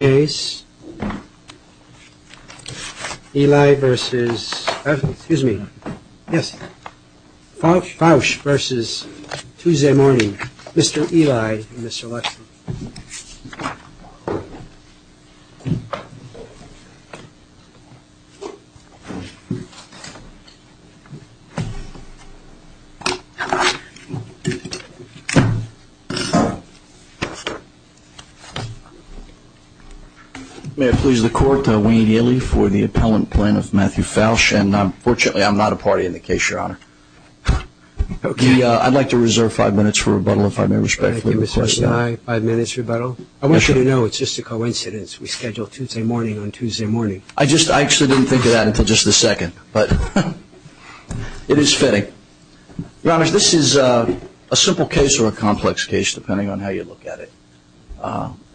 Eli v. Faush v. Tuesday Morning, Mr. Eli and Mr. Leslie. May it please the Court, Wayne Eli for the appellant plaintiff, Matthew Faush. And unfortunately, I'm not a party in the case, Your Honor. I'd like to reserve five minutes for rebuttal, if I may respectfully request that. Thank you, Mr. Eli. Five minutes for rebuttal. I want you to know it's just a coincidence we scheduled Tuesday morning on Tuesday morning. I actually didn't think of that until just a second, but it is fitting. Your Honor, this is a simple case or a complex case, depending on how you look at it.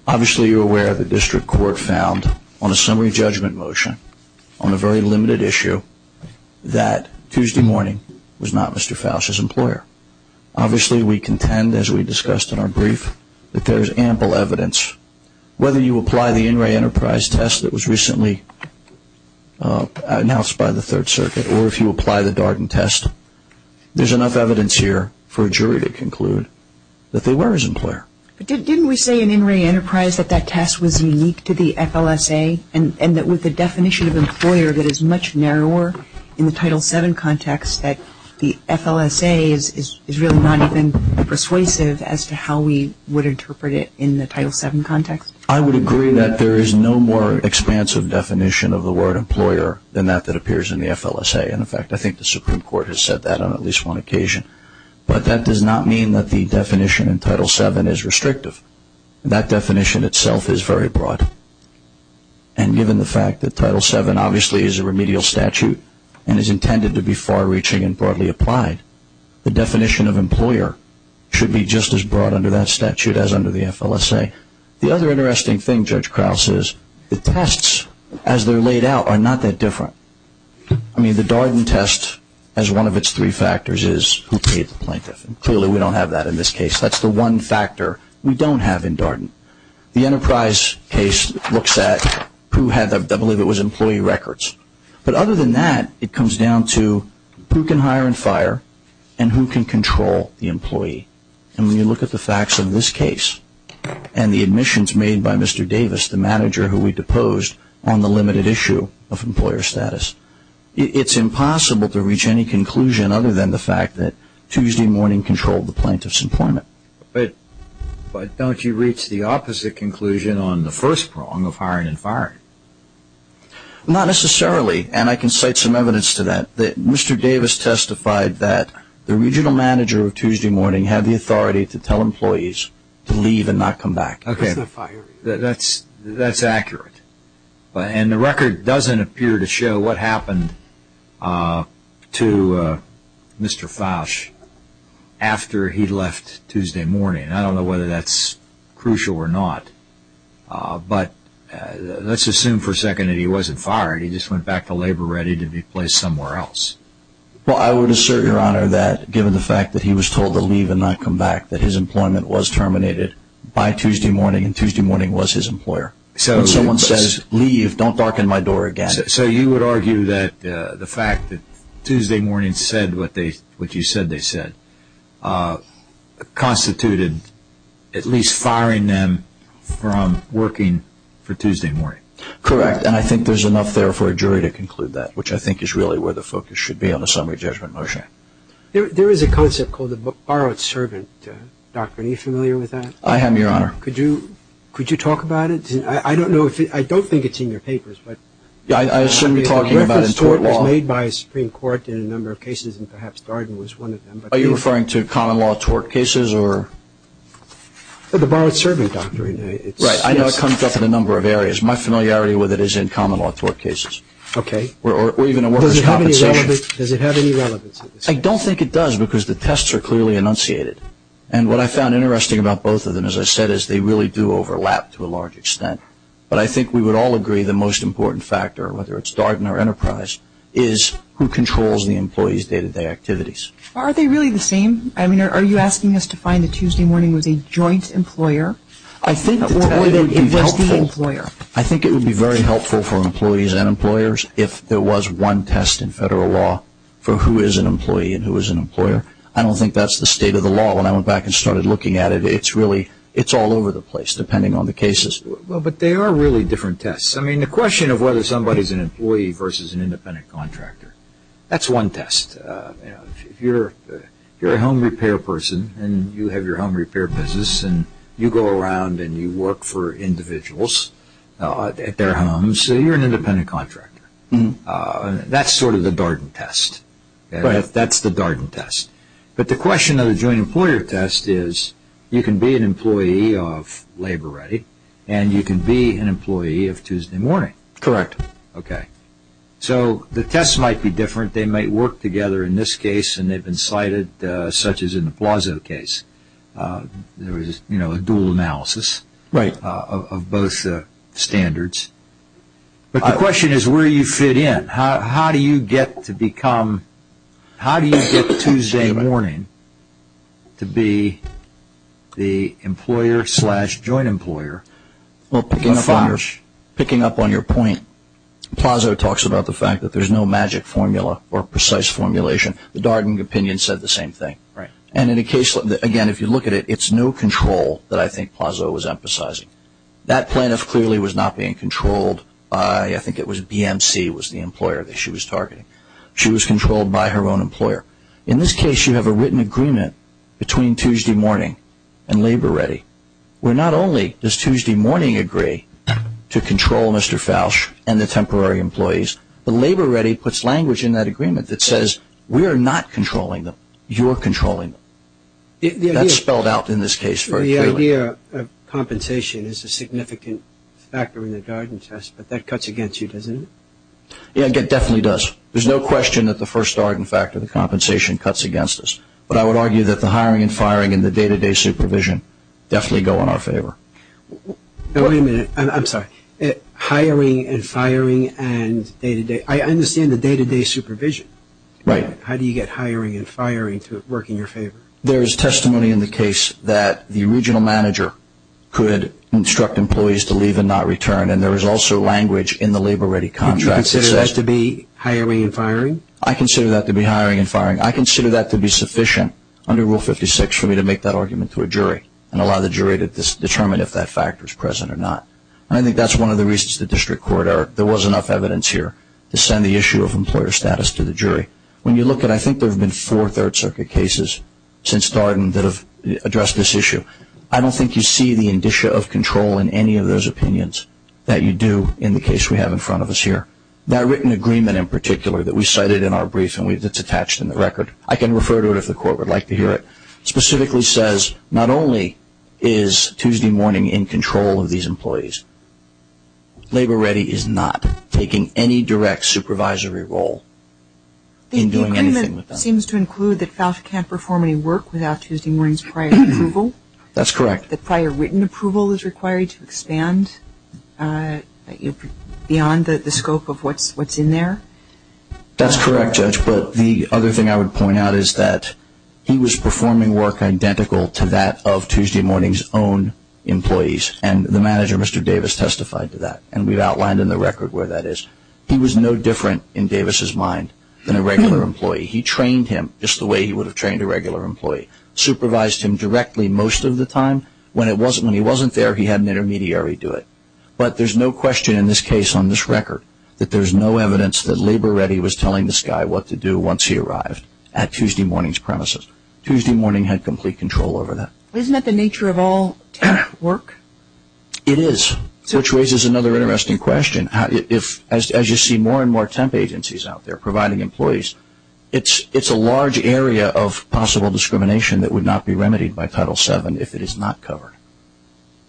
Obviously, you're aware the district court found on a summary judgment motion on a very limited issue that Tuesday morning was not Mr. Faush's employer. Obviously, we contend, as we discussed in our brief, that there's ample evidence. Whether you apply the In re Enterprise test that was recently announced by the Third Circuit or if you apply the Darden test, there's enough evidence here for a jury to conclude that they were his employer. But didn't we say in In re Enterprise that that test was unique to the FLSA and that with the definition of employer that is much narrower in the Title VII context that the FLSA is really not even persuasive as to how we would interpret it in the Title VII context? I would agree that there is no more expansive definition of the word employer than that that appears in the FLSA. In fact, I think the Supreme Court has said that on at least one occasion. But that does not mean that the definition in Title VII is restrictive. That definition itself is very broad. And given the fact that Title VII obviously is a remedial statute and is intended to be far-reaching and broadly applied, the definition of employer should be just as broad under that statute as under the FLSA. The other interesting thing, Judge Krauss, is the tests as they're laid out are not that different. I mean, the Darden test as one of its three factors is who paid the plaintiff. Clearly, we don't have that in this case. That's the one factor we don't have in Darden. The Enterprise case looks at who had, I believe it was employee records. But other than that, it comes down to who can hire and fire and who can control the employee. And when you look at the facts of this case and the admissions made by Mr. Davis, the manager who we deposed on the limited issue of employer status, it's impossible to reach any conclusion other than the fact that Tuesday morning controlled the plaintiff's employment. But don't you reach the opposite conclusion on the first prong of hiring and firing? Not necessarily, and I can cite some evidence to that. Mr. Davis testified that the regional manager of Tuesday morning had the authority to tell employees to leave and not come back. Okay, that's accurate. And the record doesn't appear to show what happened to Mr. Fausch after he left Tuesday morning. I don't know whether that's crucial or not, but let's assume for a second that he wasn't fired. He just went back to labor ready to be placed somewhere else. Well, I would assert, Your Honor, that given the fact that he was told to leave and not come back, that his employment was terminated by Tuesday morning, and Tuesday morning was his employer. When someone says, leave, don't darken my door again. So you would argue that the fact that Tuesday morning said what you said they said constituted at least firing them from working for Tuesday morning? Correct, and I think there's enough there for a jury to conclude that, which I think is really where the focus should be on the summary judgment motion. Okay. There is a concept called the borrowed servant doctrine. Are you familiar with that? I am, Your Honor. Could you talk about it? I don't think it's in your papers. I assume you're talking about it in tort law. It was made by a Supreme Court in a number of cases, and perhaps Darden was one of them. Are you referring to common law tort cases or? The borrowed servant doctrine. Right, I know it comes up in a number of areas. My familiarity with it is in common law tort cases. Okay. Or even in workers' compensation. Does it have any relevance? I don't think it does because the tests are clearly enunciated. And what I found interesting about both of them, as I said, is they really do overlap to a large extent. But I think we would all agree the most important factor, whether it's Darden or Enterprise, is who controls the employees' day-to-day activities. Are they really the same? I mean, are you asking us to find that Tuesday morning was a joint employer? I think it would be very helpful for employees and employers if there was one test in federal law for who is an employee and who is an employer. I don't think that's the state of the law. When I went back and started looking at it, it's really all over the place, depending on the cases. But they are really different tests. I mean, the question of whether somebody is an employee versus an independent contractor, that's one test. If you're a home repair person and you have your home repair business and you go around and you work for individuals at their homes, you're an independent contractor. That's sort of the Darden test. That's the Darden test. But the question of the joint employer test is you can be an employee of Labor Ready and you can be an employee of Tuesday morning. Correct. Okay. So the tests might be different. They might work together in this case and they've been cited, such as in the Plazo case. There is a dual analysis of both standards. But the question is where you fit in. How do you get Tuesday morning to be the employer slash joint employer? Well, picking up on your point, Plazo talks about the fact that there's no magic formula or precise formulation. The Darden opinion said the same thing. And in a case, again, if you look at it, it's no control that I think Plazo was emphasizing. That plaintiff clearly was not being controlled by, I think it was BMC was the employer that she was targeting. She was controlled by her own employer. In this case, you have a written agreement between Tuesday morning and Labor Ready where not only does Tuesday morning agree to control Mr. Fausch and the temporary employees, but Labor Ready puts language in that agreement that says we are not controlling them. You are controlling them. That's spelled out in this case very clearly. The idea of compensation is a significant factor in the Darden test, but that cuts against you, doesn't it? Yeah, it definitely does. There's no question that the first Darden factor, the compensation, cuts against us. But I would argue that the hiring and firing and the day-to-day supervision definitely go in our favor. Wait a minute. I'm sorry. Hiring and firing and day-to-day. I understand the day-to-day supervision. Right. How do you get hiring and firing to work in your favor? There is testimony in the case that the regional manager could instruct employees to leave and not return, and there is also language in the Labor Ready contract that says. Do you consider that to be hiring and firing? I consider that to be hiring and firing. I consider that to be sufficient under Rule 56 for me to make that argument to a jury and allow the jury to determine if that factor is present or not. I think that's one of the reasons the district court, there was enough evidence here, to send the issue of employer status to the jury. When you look at, I think there have been four Third Circuit cases since Darden that have addressed this issue, I don't think you see the indicia of control in any of those opinions that you do in the case we have in front of us here. That written agreement in particular that we cited in our brief and that's attached in the record, I can refer to it if the court would like to hear it, specifically says not only is Tuesday morning in control of these employees, Labor Ready is not taking any direct supervisory role in doing anything with them. The agreement seems to include that FALCHA can't perform any work without Tuesday morning's prior approval? That's correct. The prior written approval is required to expand beyond the scope of what's in there? That's correct, Judge. But the other thing I would point out is that he was performing work identical to that of Tuesday morning's own employees. And the manager, Mr. Davis, testified to that. And we've outlined in the record where that is. He was no different, in Davis's mind, than a regular employee. He trained him just the way he would have trained a regular employee. Supervised him directly most of the time. When he wasn't there, he had an intermediary do it. But there's no question in this case on this record that there's no evidence that Labor Ready was telling this guy what to do once he arrived at Tuesday morning's premises. Tuesday morning had complete control over that. Isn't that the nature of all temp work? It is, which raises another interesting question. As you see more and more temp agencies out there providing employees, it's a large area of possible discrimination that would not be remedied by Title VII if it is not covered.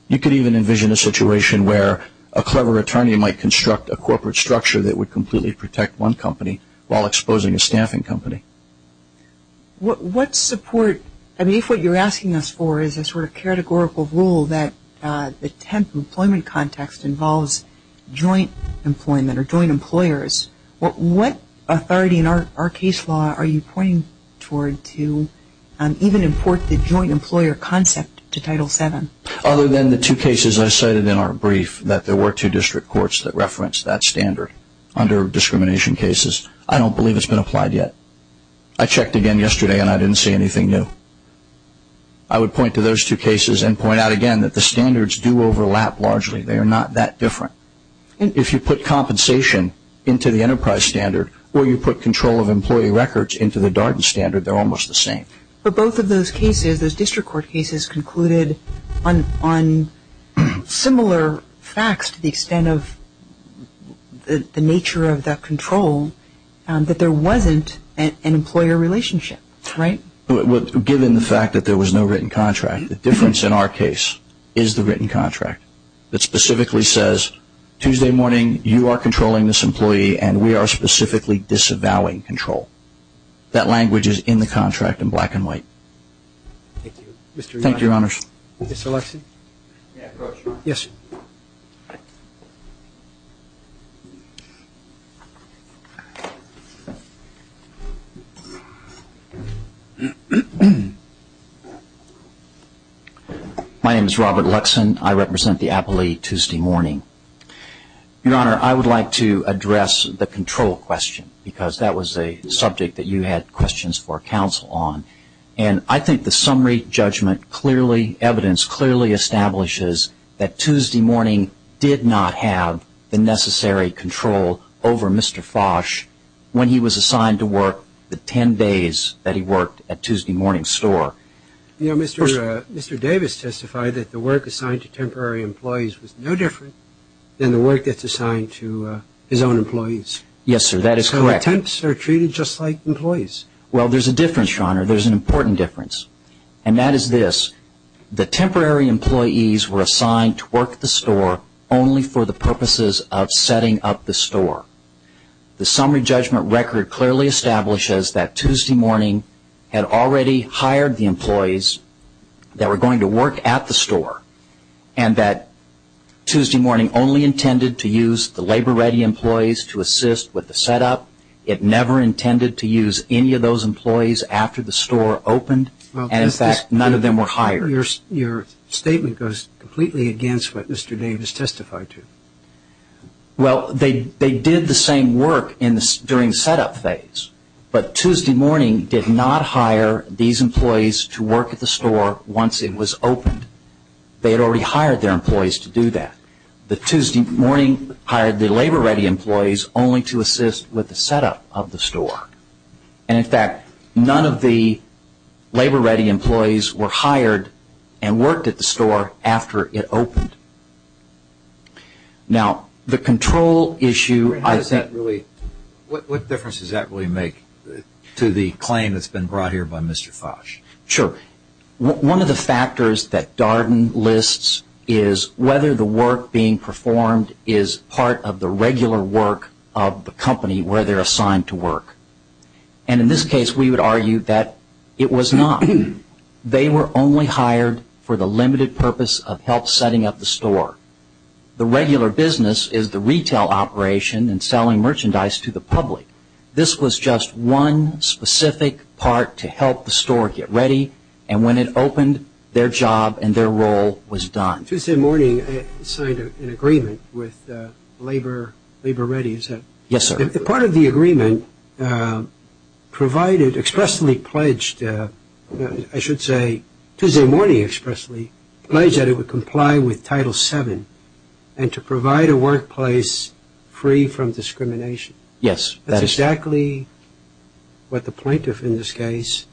You could even envision a situation where a clever attorney might construct a corporate structure that would completely protect one company while exposing a staffing company. What support, I mean, if what you're asking us for is a sort of categorical rule that the temp employment context involves joint employment or joint employers, what authority in our case law are you pointing toward to even import the joint employer concept to Title VII? Other than the two cases I cited in our brief that there were two district courts that referenced that standard under discrimination cases, I don't believe it's been applied yet. I checked again yesterday and I didn't see anything new. I would point to those two cases and point out again that the standards do overlap largely. They are not that different. If you put compensation into the enterprise standard or you put control of employee records into the Darden standard, they're almost the same. But both of those cases, those district court cases, concluded on similar facts to the extent of the nature of that control that there wasn't an employer relationship, right? Given the fact that there was no written contract, the difference in our case is the written contract that specifically says Tuesday morning you are controlling this employee and we are specifically disavowing control. That language is in the contract in black and white. Thank you, Your Honors. Mr. Luxen? May I approach? Yes. My name is Robert Luxen. I represent the appellee Tuesday morning. Your Honor, I would like to address the control question because that was a subject that you had questions for counsel on. And I think the summary judgment clearly, evidence clearly establishes that Tuesday morning did not have the necessary control over Mr. Fosh when he was assigned to work the 10 days that he worked at Tuesday morning's store. You know, Mr. Davis testified that the work assigned to temporary employees was no different than the work that's assigned to his own employees. Yes, sir. That is correct. So attempts are treated just like employees. Well, there's a difference, Your Honor. There's an important difference. And that is this, the temporary employees were assigned to work the store only for the purposes of setting up the store. The summary judgment record clearly establishes that Tuesday morning had already hired the employees that were going to work at the store and that Tuesday morning only intended to use the labor-ready employees to assist with the setup. It never intended to use any of those employees after the store opened. And, in fact, none of them were hired. Your statement goes completely against what Mr. Davis testified to. Well, they did the same work during the setup phase, but Tuesday morning did not hire these employees to work at the store once it was opened. They had already hired their employees to do that. The Tuesday morning hired the labor-ready employees only to assist with the setup of the store. And, in fact, none of the labor-ready employees were hired and worked at the store after it opened. Now, the control issue, I think – What difference does that really make to the claim that's been brought here by Mr. Foch? Sure. One of the factors that Darden lists is whether the work being performed is part of the regular work of the company where they're assigned to work. And, in this case, we would argue that it was not. They were only hired for the limited purpose of help setting up the store. The regular business is the retail operation and selling merchandise to the public. This was just one specific part to help the store get ready. And when it opened, their job and their role was done. Tuesday morning signed an agreement with labor-ready. Yes, sir. Part of the agreement provided – expressly pledged – I should say Tuesday morning expressly pledged that it would comply with Title VII and to provide a workplace free from discrimination. Yes. That's exactly what the plaintiff in this case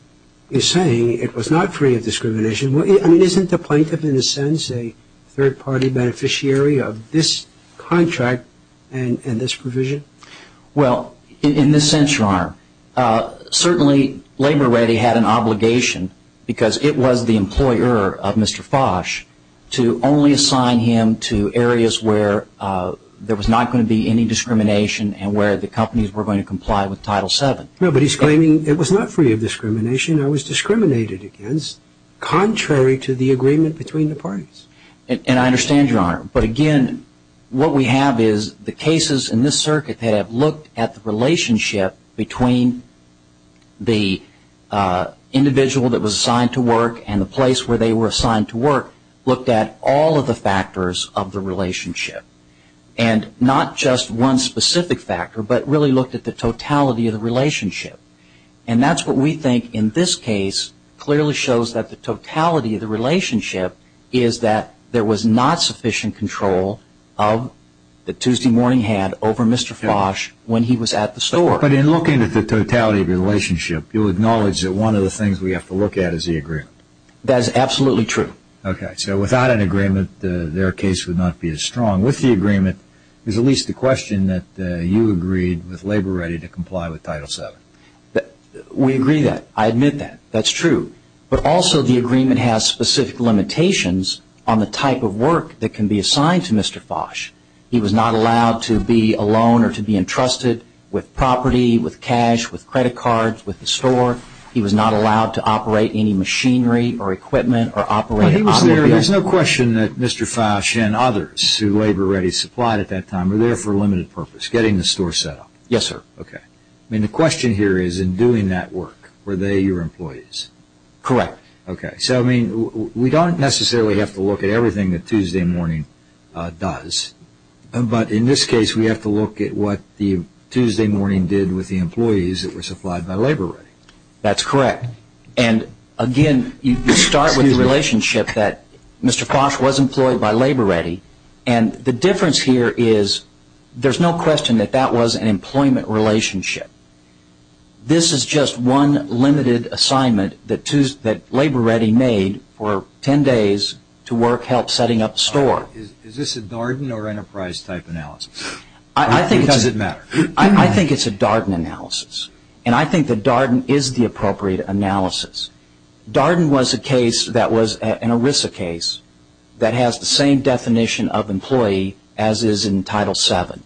is saying. It was not free of discrimination. I mean, isn't the plaintiff in a sense a third-party beneficiary of this contract and this provision? Well, in this sense, Your Honor, certainly labor-ready had an obligation because it was the employer of Mr. Foch to only assign him to areas where there was not going to be any discrimination and where the companies were going to comply with Title VII. No, but he's claiming it was not free of discrimination. It was discriminated against contrary to the agreement between the parties. And I understand, Your Honor. But, again, what we have is the cases in this circuit that have looked at the relationship between the individual that was assigned to work and the place where they were assigned to work looked at all of the factors of the relationship and not just one specific factor but really looked at the totality of the relationship. And that's what we think in this case clearly shows that the totality of the relationship is that there was not sufficient control that Tuesday morning had over Mr. Foch when he was at the store. But in looking at the totality of the relationship, you acknowledge that one of the things we have to look at is the agreement. That is absolutely true. Okay, so without an agreement, their case would not be as strong. With the agreement, there's at least the question that you agreed with labor-ready to comply with Title VII. We agree that. I admit that. That's true. But also the agreement has specific limitations on the type of work that can be assigned to Mr. Foch. He was not allowed to be alone or to be entrusted with property, with cash, with credit cards, with the store. He was not allowed to operate any machinery or equipment or operate automobile. There's no question that Mr. Foch and others who labor-ready supplied at that time were there for a limited purpose, getting the store set up. Yes, sir. Okay. I mean, the question here is in doing that work, were they your employees? Correct. Okay. So, I mean, we don't necessarily have to look at everything that Tuesday morning does. But in this case, we have to look at what the Tuesday morning did with the employees that were supplied by labor-ready. That's correct. And, again, you start with the relationship that Mr. Foch was employed by labor-ready. And the difference here is there's no question that that was an employment relationship. This is just one limited assignment that labor-ready made for 10 days to work help setting up the store. Is this a Darden or Enterprise type analysis? I think it's a Darden analysis. And I think the Darden is the appropriate analysis. Darden was a case that was an ERISA case that has the same definition of employee as is in Title VII.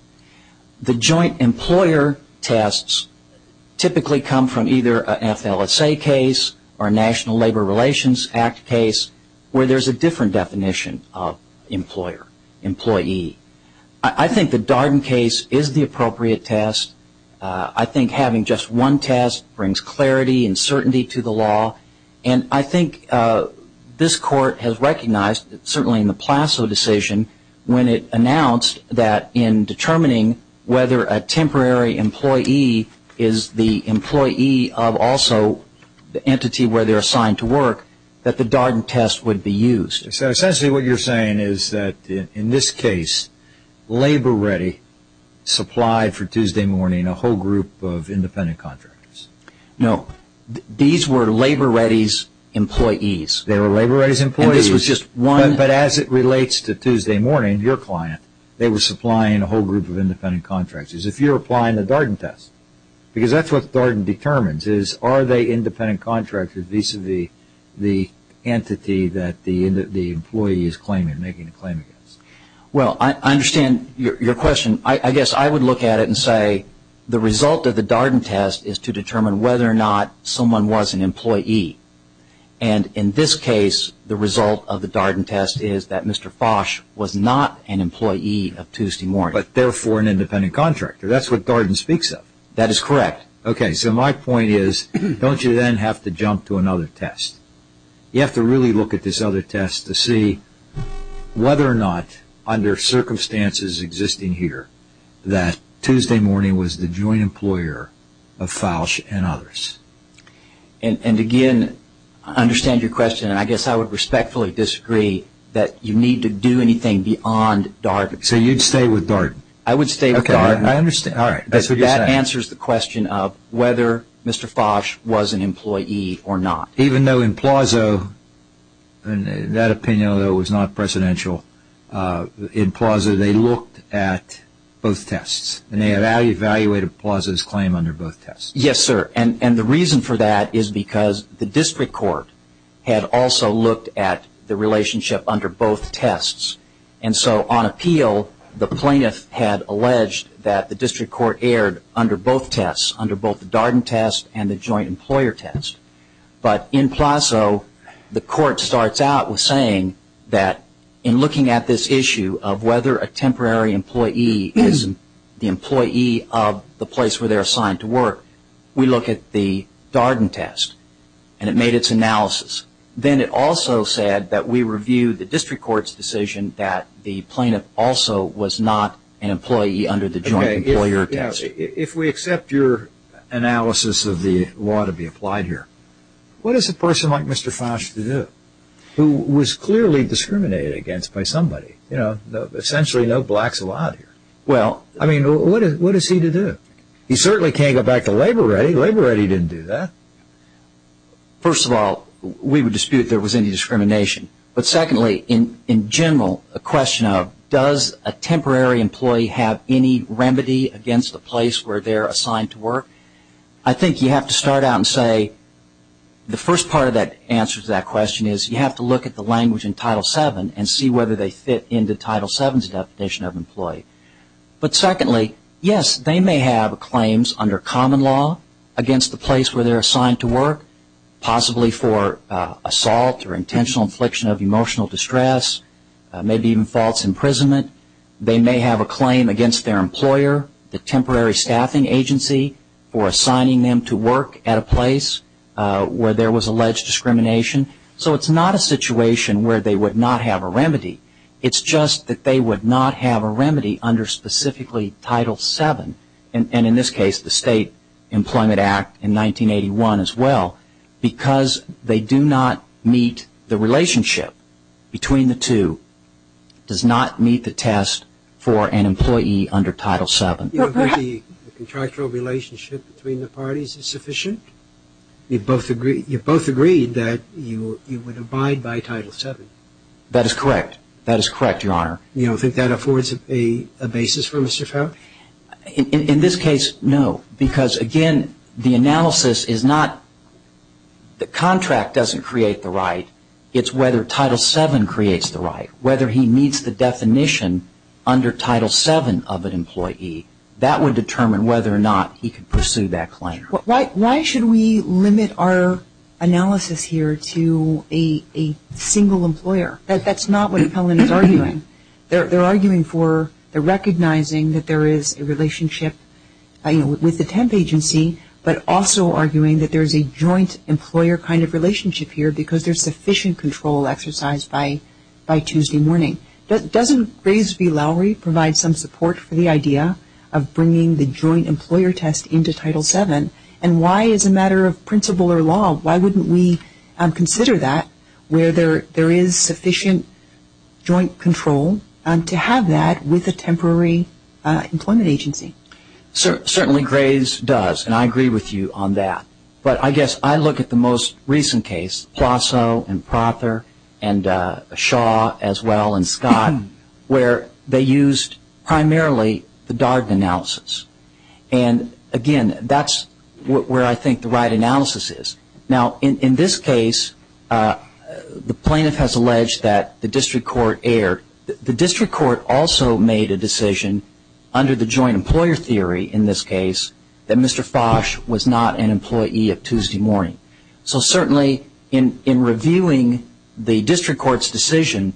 The joint employer tests typically come from either an FLSA case or a National Labor Relations Act case where there's a different definition of employer, employee. I think the Darden case is the appropriate test. I think having just one test brings clarity and certainty to the law. And I think this Court has recognized, certainly in the Plasso decision, when it announced that in determining whether a temporary employee is the employee of also the entity where they're assigned to work, that the Darden test would be used. So essentially what you're saying is that, in this case, labor-ready supplied for Tuesday morning a whole group of independent contractors. No. These were labor-ready's employees. They were labor-ready's employees. And this was just one. But as it relates to Tuesday morning, your client, they were supplying a whole group of independent contractors. If you're applying the Darden test, because that's what Darden determines, is are they independent contractors vis-a-vis the entity that the employee is claiming, making a claim against. Well, I understand your question. I guess I would look at it and say the result of the Darden test is to determine whether or not someone was an employee. And in this case, the result of the Darden test is that Mr. Fosh was not an employee of Tuesday morning. But therefore an independent contractor. That's what Darden speaks of. That is correct. Okay. So my point is, don't you then have to jump to another test? You have to really look at this other test to see whether or not, under circumstances existing here, that Tuesday morning was the joint employer of Fosh and others. And again, I understand your question. And I guess I would respectfully disagree that you need to do anything beyond Darden. So you'd stay with Darden? I would stay with Darden. Okay. I understand. All right. That answers the question of whether Mr. Fosh was an employee or not. Even though in Plaza, in that opinion, although it was not presidential, in Plaza they looked at both tests. And they evaluated Plaza's claim under both tests. Yes, sir. And the reason for that is because the district court had also looked at the relationship under both tests. And so on appeal, the plaintiff had alleged that the district court erred under both tests, under both the Darden test and the joint employer test. But in Plaza, the court starts out with saying that in looking at this issue of whether a temporary employee is the employee of the place where they're assigned to work, we look at the Darden test. And it made its analysis. Then it also said that we reviewed the district court's decision that the plaintiff also was not an employee under the joint employer test. If we accept your analysis of the law to be applied here, what is a person like Mr. Fosh to do? Who was clearly discriminated against by somebody. You know, essentially no blacks allowed here. Well, I mean, what is he to do? He certainly can't go back to labor ready. Labor ready didn't do that. First of all, we would dispute there was any discrimination. But secondly, in general, a question of does a temporary employee have any remedy against the place where they're assigned to work? I think you have to start out and say the first part of that answer to that question is you have to look at the language in Title VII and see whether they fit into Title VII's definition of employee. But secondly, yes, they may have claims under common law against the place where they're assigned to work, possibly for assault or intentional infliction of emotional distress, maybe even false imprisonment. They may have a claim against their employer, the temporary staffing agency, for assigning them to work at a place where there was alleged discrimination. So it's not a situation where they would not have a remedy. It's just that they would not have a remedy under specifically Title VII, and in this case the State Employment Act in 1981 as well, because they do not meet the relationship between the two, does not meet the test for an employee under Title VII. You agree the contractual relationship between the parties is sufficient? You both agree that you would abide by Title VII? That is correct. That is correct, Your Honor. You don't think that affords a basis for Mr. Farr? In this case, no, because, again, the analysis is not the contract doesn't create the right. It's whether Title VII creates the right, whether he meets the definition under Title VII of an employee. That would determine whether or not he could pursue that claim. Why should we limit our analysis here to a single employer? That's not what Helen is arguing. They're arguing for the recognizing that there is a relationship with the temp agency, but also arguing that there's a joint employer kind of relationship here because there's sufficient control exercised by Tuesday morning. Doesn't Graves v. Lowry provide some support for the idea of bringing the joint employer test into Title VII, and why as a matter of principle or law, why wouldn't we consider that where there is sufficient joint control to have that with a temporary employment agency? Certainly, Graves does, and I agree with you on that. But I guess I look at the most recent case, Plasso and Prother and Shaw as well as Scott, where they used primarily the Darden analysis. And again, that's where I think the right analysis is. Now, in this case, the plaintiff has alleged that the district court erred. The district court also made a decision under the joint employer theory in this case that Mr. Fosch was not an employee of Tuesday morning. So certainly, in reviewing the district court's decision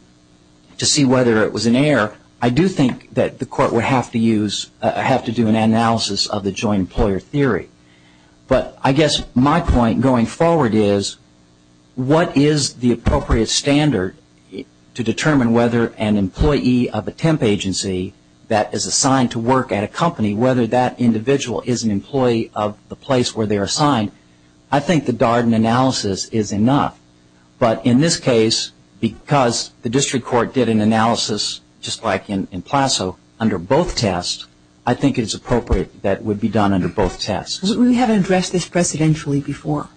to see whether it was an error, I do think that the court would have to do an analysis of the joint employer theory. But I guess my point going forward is what is the appropriate standard to determine whether an employee of a temp agency that is assigned to work at a company, whether that individual is an employee of the place where they're assigned? I think the Darden analysis is enough. But in this case, because the district court did an analysis just like in Plasso under both tests, I think it's appropriate that it would be done under both tests. We haven't addressed this precedentially before.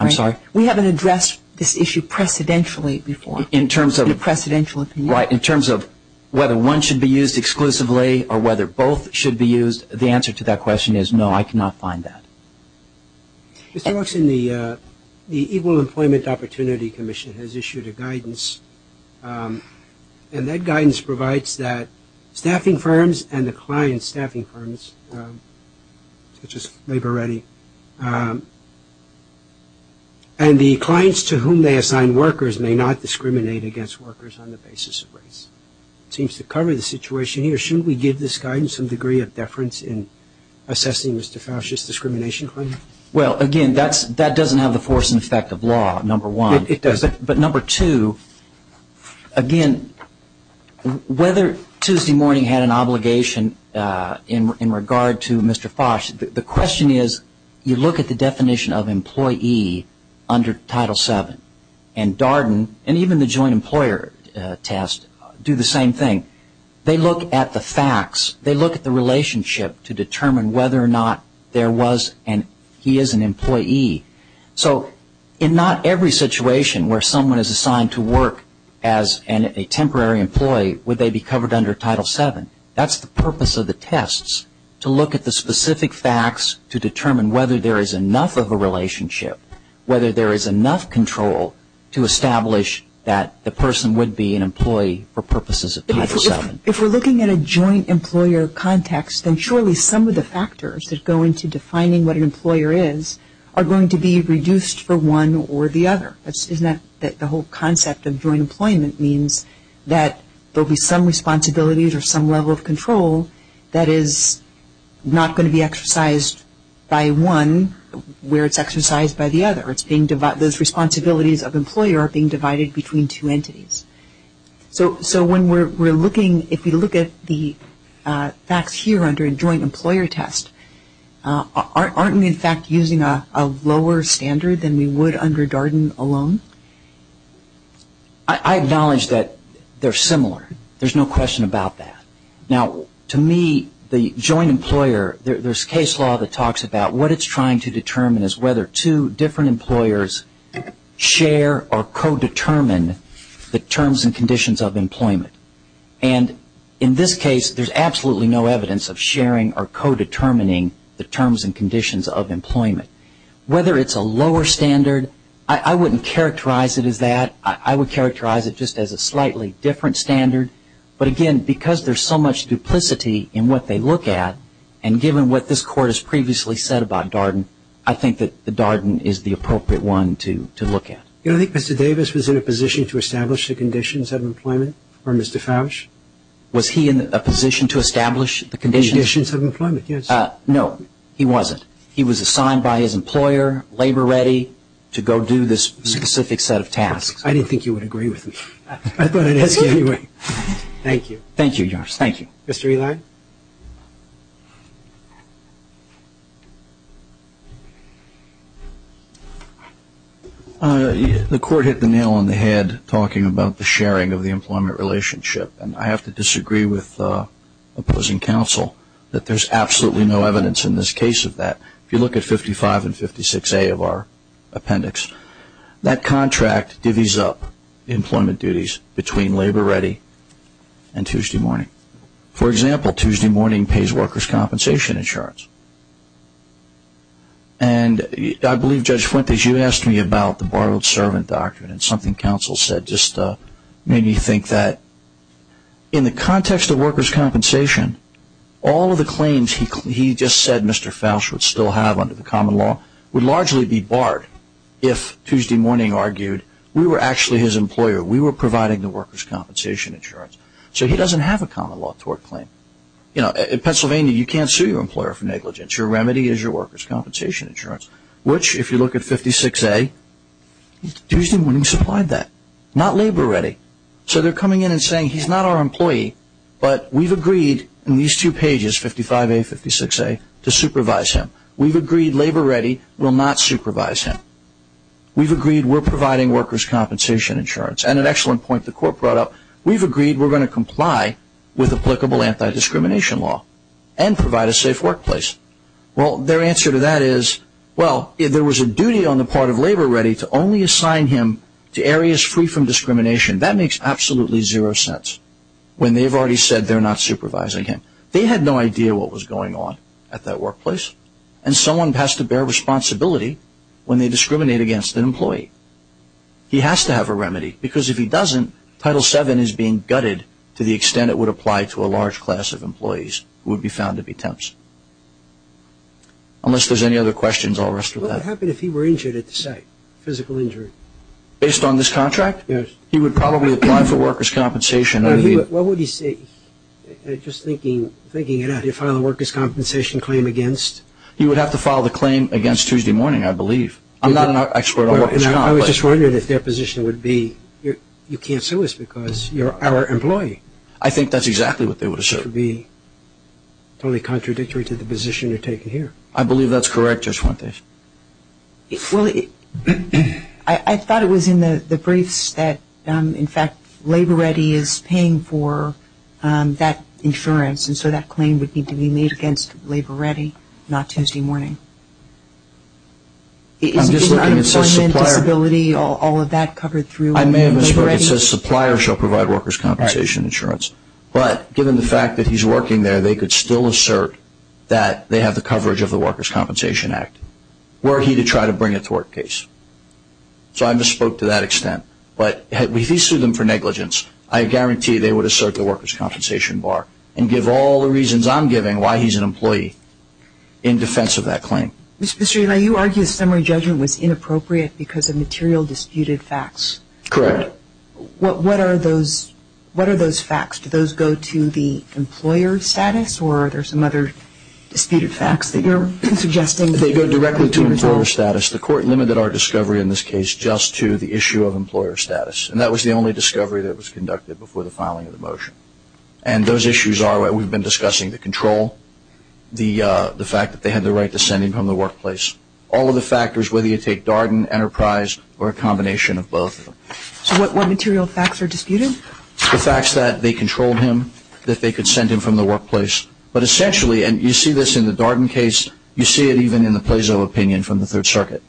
I'm sorry? We haven't addressed this issue precedentially before in a precedential opinion. Right. In terms of whether one should be used exclusively or whether both should be used, the answer to that question is no, I cannot find that. Mr. Waxman, the Equal Employment Opportunity Commission has issued a guidance, and that guidance provides that staffing firms and the client's staffing firms, such as Labor Ready, and the clients to whom they assign workers may not discriminate against workers on the basis of race. It seems to cover the situation here. Shouldn't we give this guidance some degree of deference in assessing Mr. Fosch's discrimination claim? Well, again, that doesn't have the force and effect of law, number one. It doesn't. But number two, again, whether Tuesday morning had an obligation in regard to Mr. Fosch, the question is you look at the definition of employee under Title VII, and Darden and even the joint employer test do the same thing. They look at the facts. They look at the relationship to determine whether or not there was and he is an employee. So in not every situation where someone is assigned to work as a temporary employee, would they be covered under Title VII. That's the purpose of the tests, to look at the specific facts to determine whether there is enough of a relationship, whether there is enough control to establish that the person would be an employee for purposes of Title VII. If we're looking at a joint employer context, then surely some of the factors that go into defining what an employer is are going to be reduced for one or the other. Isn't that the whole concept of joint employment means that there will be some responsibilities or some level of control that is not going to be exercised by one where it's exercised by the other. Those responsibilities of employer are being divided between two entities. So when we're looking, if we look at the facts here under a joint employer test, aren't we in fact using a lower standard than we would under Darden alone? I acknowledge that they're similar. There's no question about that. Now, to me, the joint employer, there's case law that talks about what it's trying to determine is whether two different employers share or co-determine the terms and conditions of employment. And in this case, there's absolutely no evidence of sharing or co-determining the terms and conditions of employment. Whether it's a lower standard, I wouldn't characterize it as that. I would characterize it just as a slightly different standard. But again, because there's so much duplicity in what they look at, and given what this Court has previously said about Darden, I think that Darden is the appropriate one to look at. You know, I think Mr. Davis was in a position to establish the conditions of employment for Mr. Fausch. Was he in a position to establish the conditions? Conditions of employment, yes. No, he wasn't. He was assigned by his employer, labor-ready, to go do this specific set of tasks. I didn't think you would agree with me. I thought I'd ask you anyway. Thank you. Thank you, Your Honor. Thank you. Mr. Ely? The Court hit the nail on the head talking about the sharing of the employment relationship. And I have to disagree with opposing counsel that there's absolutely no evidence in this case of that. If you look at 55 and 56A of our appendix, that contract divvies up employment duties between labor-ready and Tuesday morning. For example, Tuesday morning pays workers' compensation insurance. And I believe, Judge Fuentes, you asked me about the borrowed servant doctrine and something counsel said just made me think that in the context of workers' compensation, all of the claims he just said Mr. Fausch would still have under the common law would largely be barred if Tuesday morning argued we were actually his employer, we were providing the workers' compensation insurance. So he doesn't have a common law tort claim. In Pennsylvania, you can't sue your employer for negligence. Your remedy is your workers' compensation insurance, which, if you look at 56A, Tuesday morning supplied that, not labor-ready. So they're coming in and saying he's not our employee, but we've agreed in these two pages, 55A and 56A, to supervise him. We've agreed labor-ready will not supervise him. We've agreed we're providing workers' compensation insurance. And an excellent point the Court brought up, we've agreed we're going to comply with applicable anti-discrimination law and provide a safe workplace. Well, their answer to that is, well, if there was a duty on the part of labor-ready to only assign him to areas free from discrimination, that makes absolutely zero sense, when they've already said they're not supervising him. They had no idea what was going on at that workplace, and someone has to bear responsibility when they discriminate against an employee. He has to have a remedy, because if he doesn't, Title VII is being gutted to the extent it would apply to a large class of employees, who would be found to be tempts. Unless there's any other questions, I'll rest with that. What would happen if he were injured at the site, physical injury? Based on this contract? Yes. He would probably apply for workers' compensation. What would he say? Just thinking it out, he'd file a workers' compensation claim against? He would have to file the claim against Tuesday morning, I believe. I'm not an expert on workers' compensation. I was just wondering if their position would be, you can't sue us because you're our employee. I think that's exactly what they would have said. It would be totally contradictory to the position you're taking here. I believe that's correct, Judge Fuentes. I thought it was in the briefs that, in fact, labor-ready is paying for that insurance, and so that claim would need to be made against labor-ready, not Tuesday morning. Is unemployment, disability, all of that covered through labor-ready? I may have misheard. It says suppliers shall provide workers' compensation insurance. But given the fact that he's working there, they could still assert that they have the coverage of the Workers' Compensation Act, were he to try to bring it to work case. So I misspoke to that extent. But if he sued them for negligence, I guarantee they would assert the workers' compensation bar and give all the reasons I'm giving why he's an employee in defense of that claim. Mr. Pistri, you argue the summary judgment was inappropriate because of material disputed facts. Correct. What are those facts? Do those go to the employer status, or are there some other disputed facts that you're suggesting? They go directly to employer status. The court limited our discovery in this case just to the issue of employer status, and that was the only discovery that was conducted before the filing of the motion. And those issues are what we've been discussing, the control, the fact that they had the right to send him from the workplace. All of the factors, whether you take Darden, Enterprise, or a combination of both. So what material facts are disputed? The facts that they controlled him, that they could send him from the workplace. But essentially, and you see this in the Darden case, you see it even in the Plezo opinion from the Third Circuit,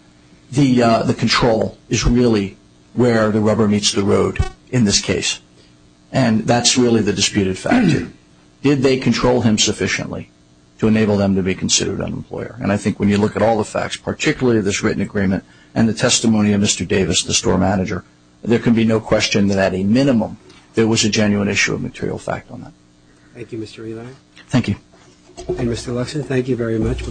the control is really where the rubber meets the road in this case. And that's really the disputed factor. Did they control him sufficiently to enable them to be considered an employer? And I think when you look at all the facts, particularly this written agreement and the testimony of Mr. Davis, the store manager, there can be no question that at a minimum there was a genuine issue of material fact on that. Thank you, Mr. Elias. Thank you. And, Mr. Luxon, thank you very much.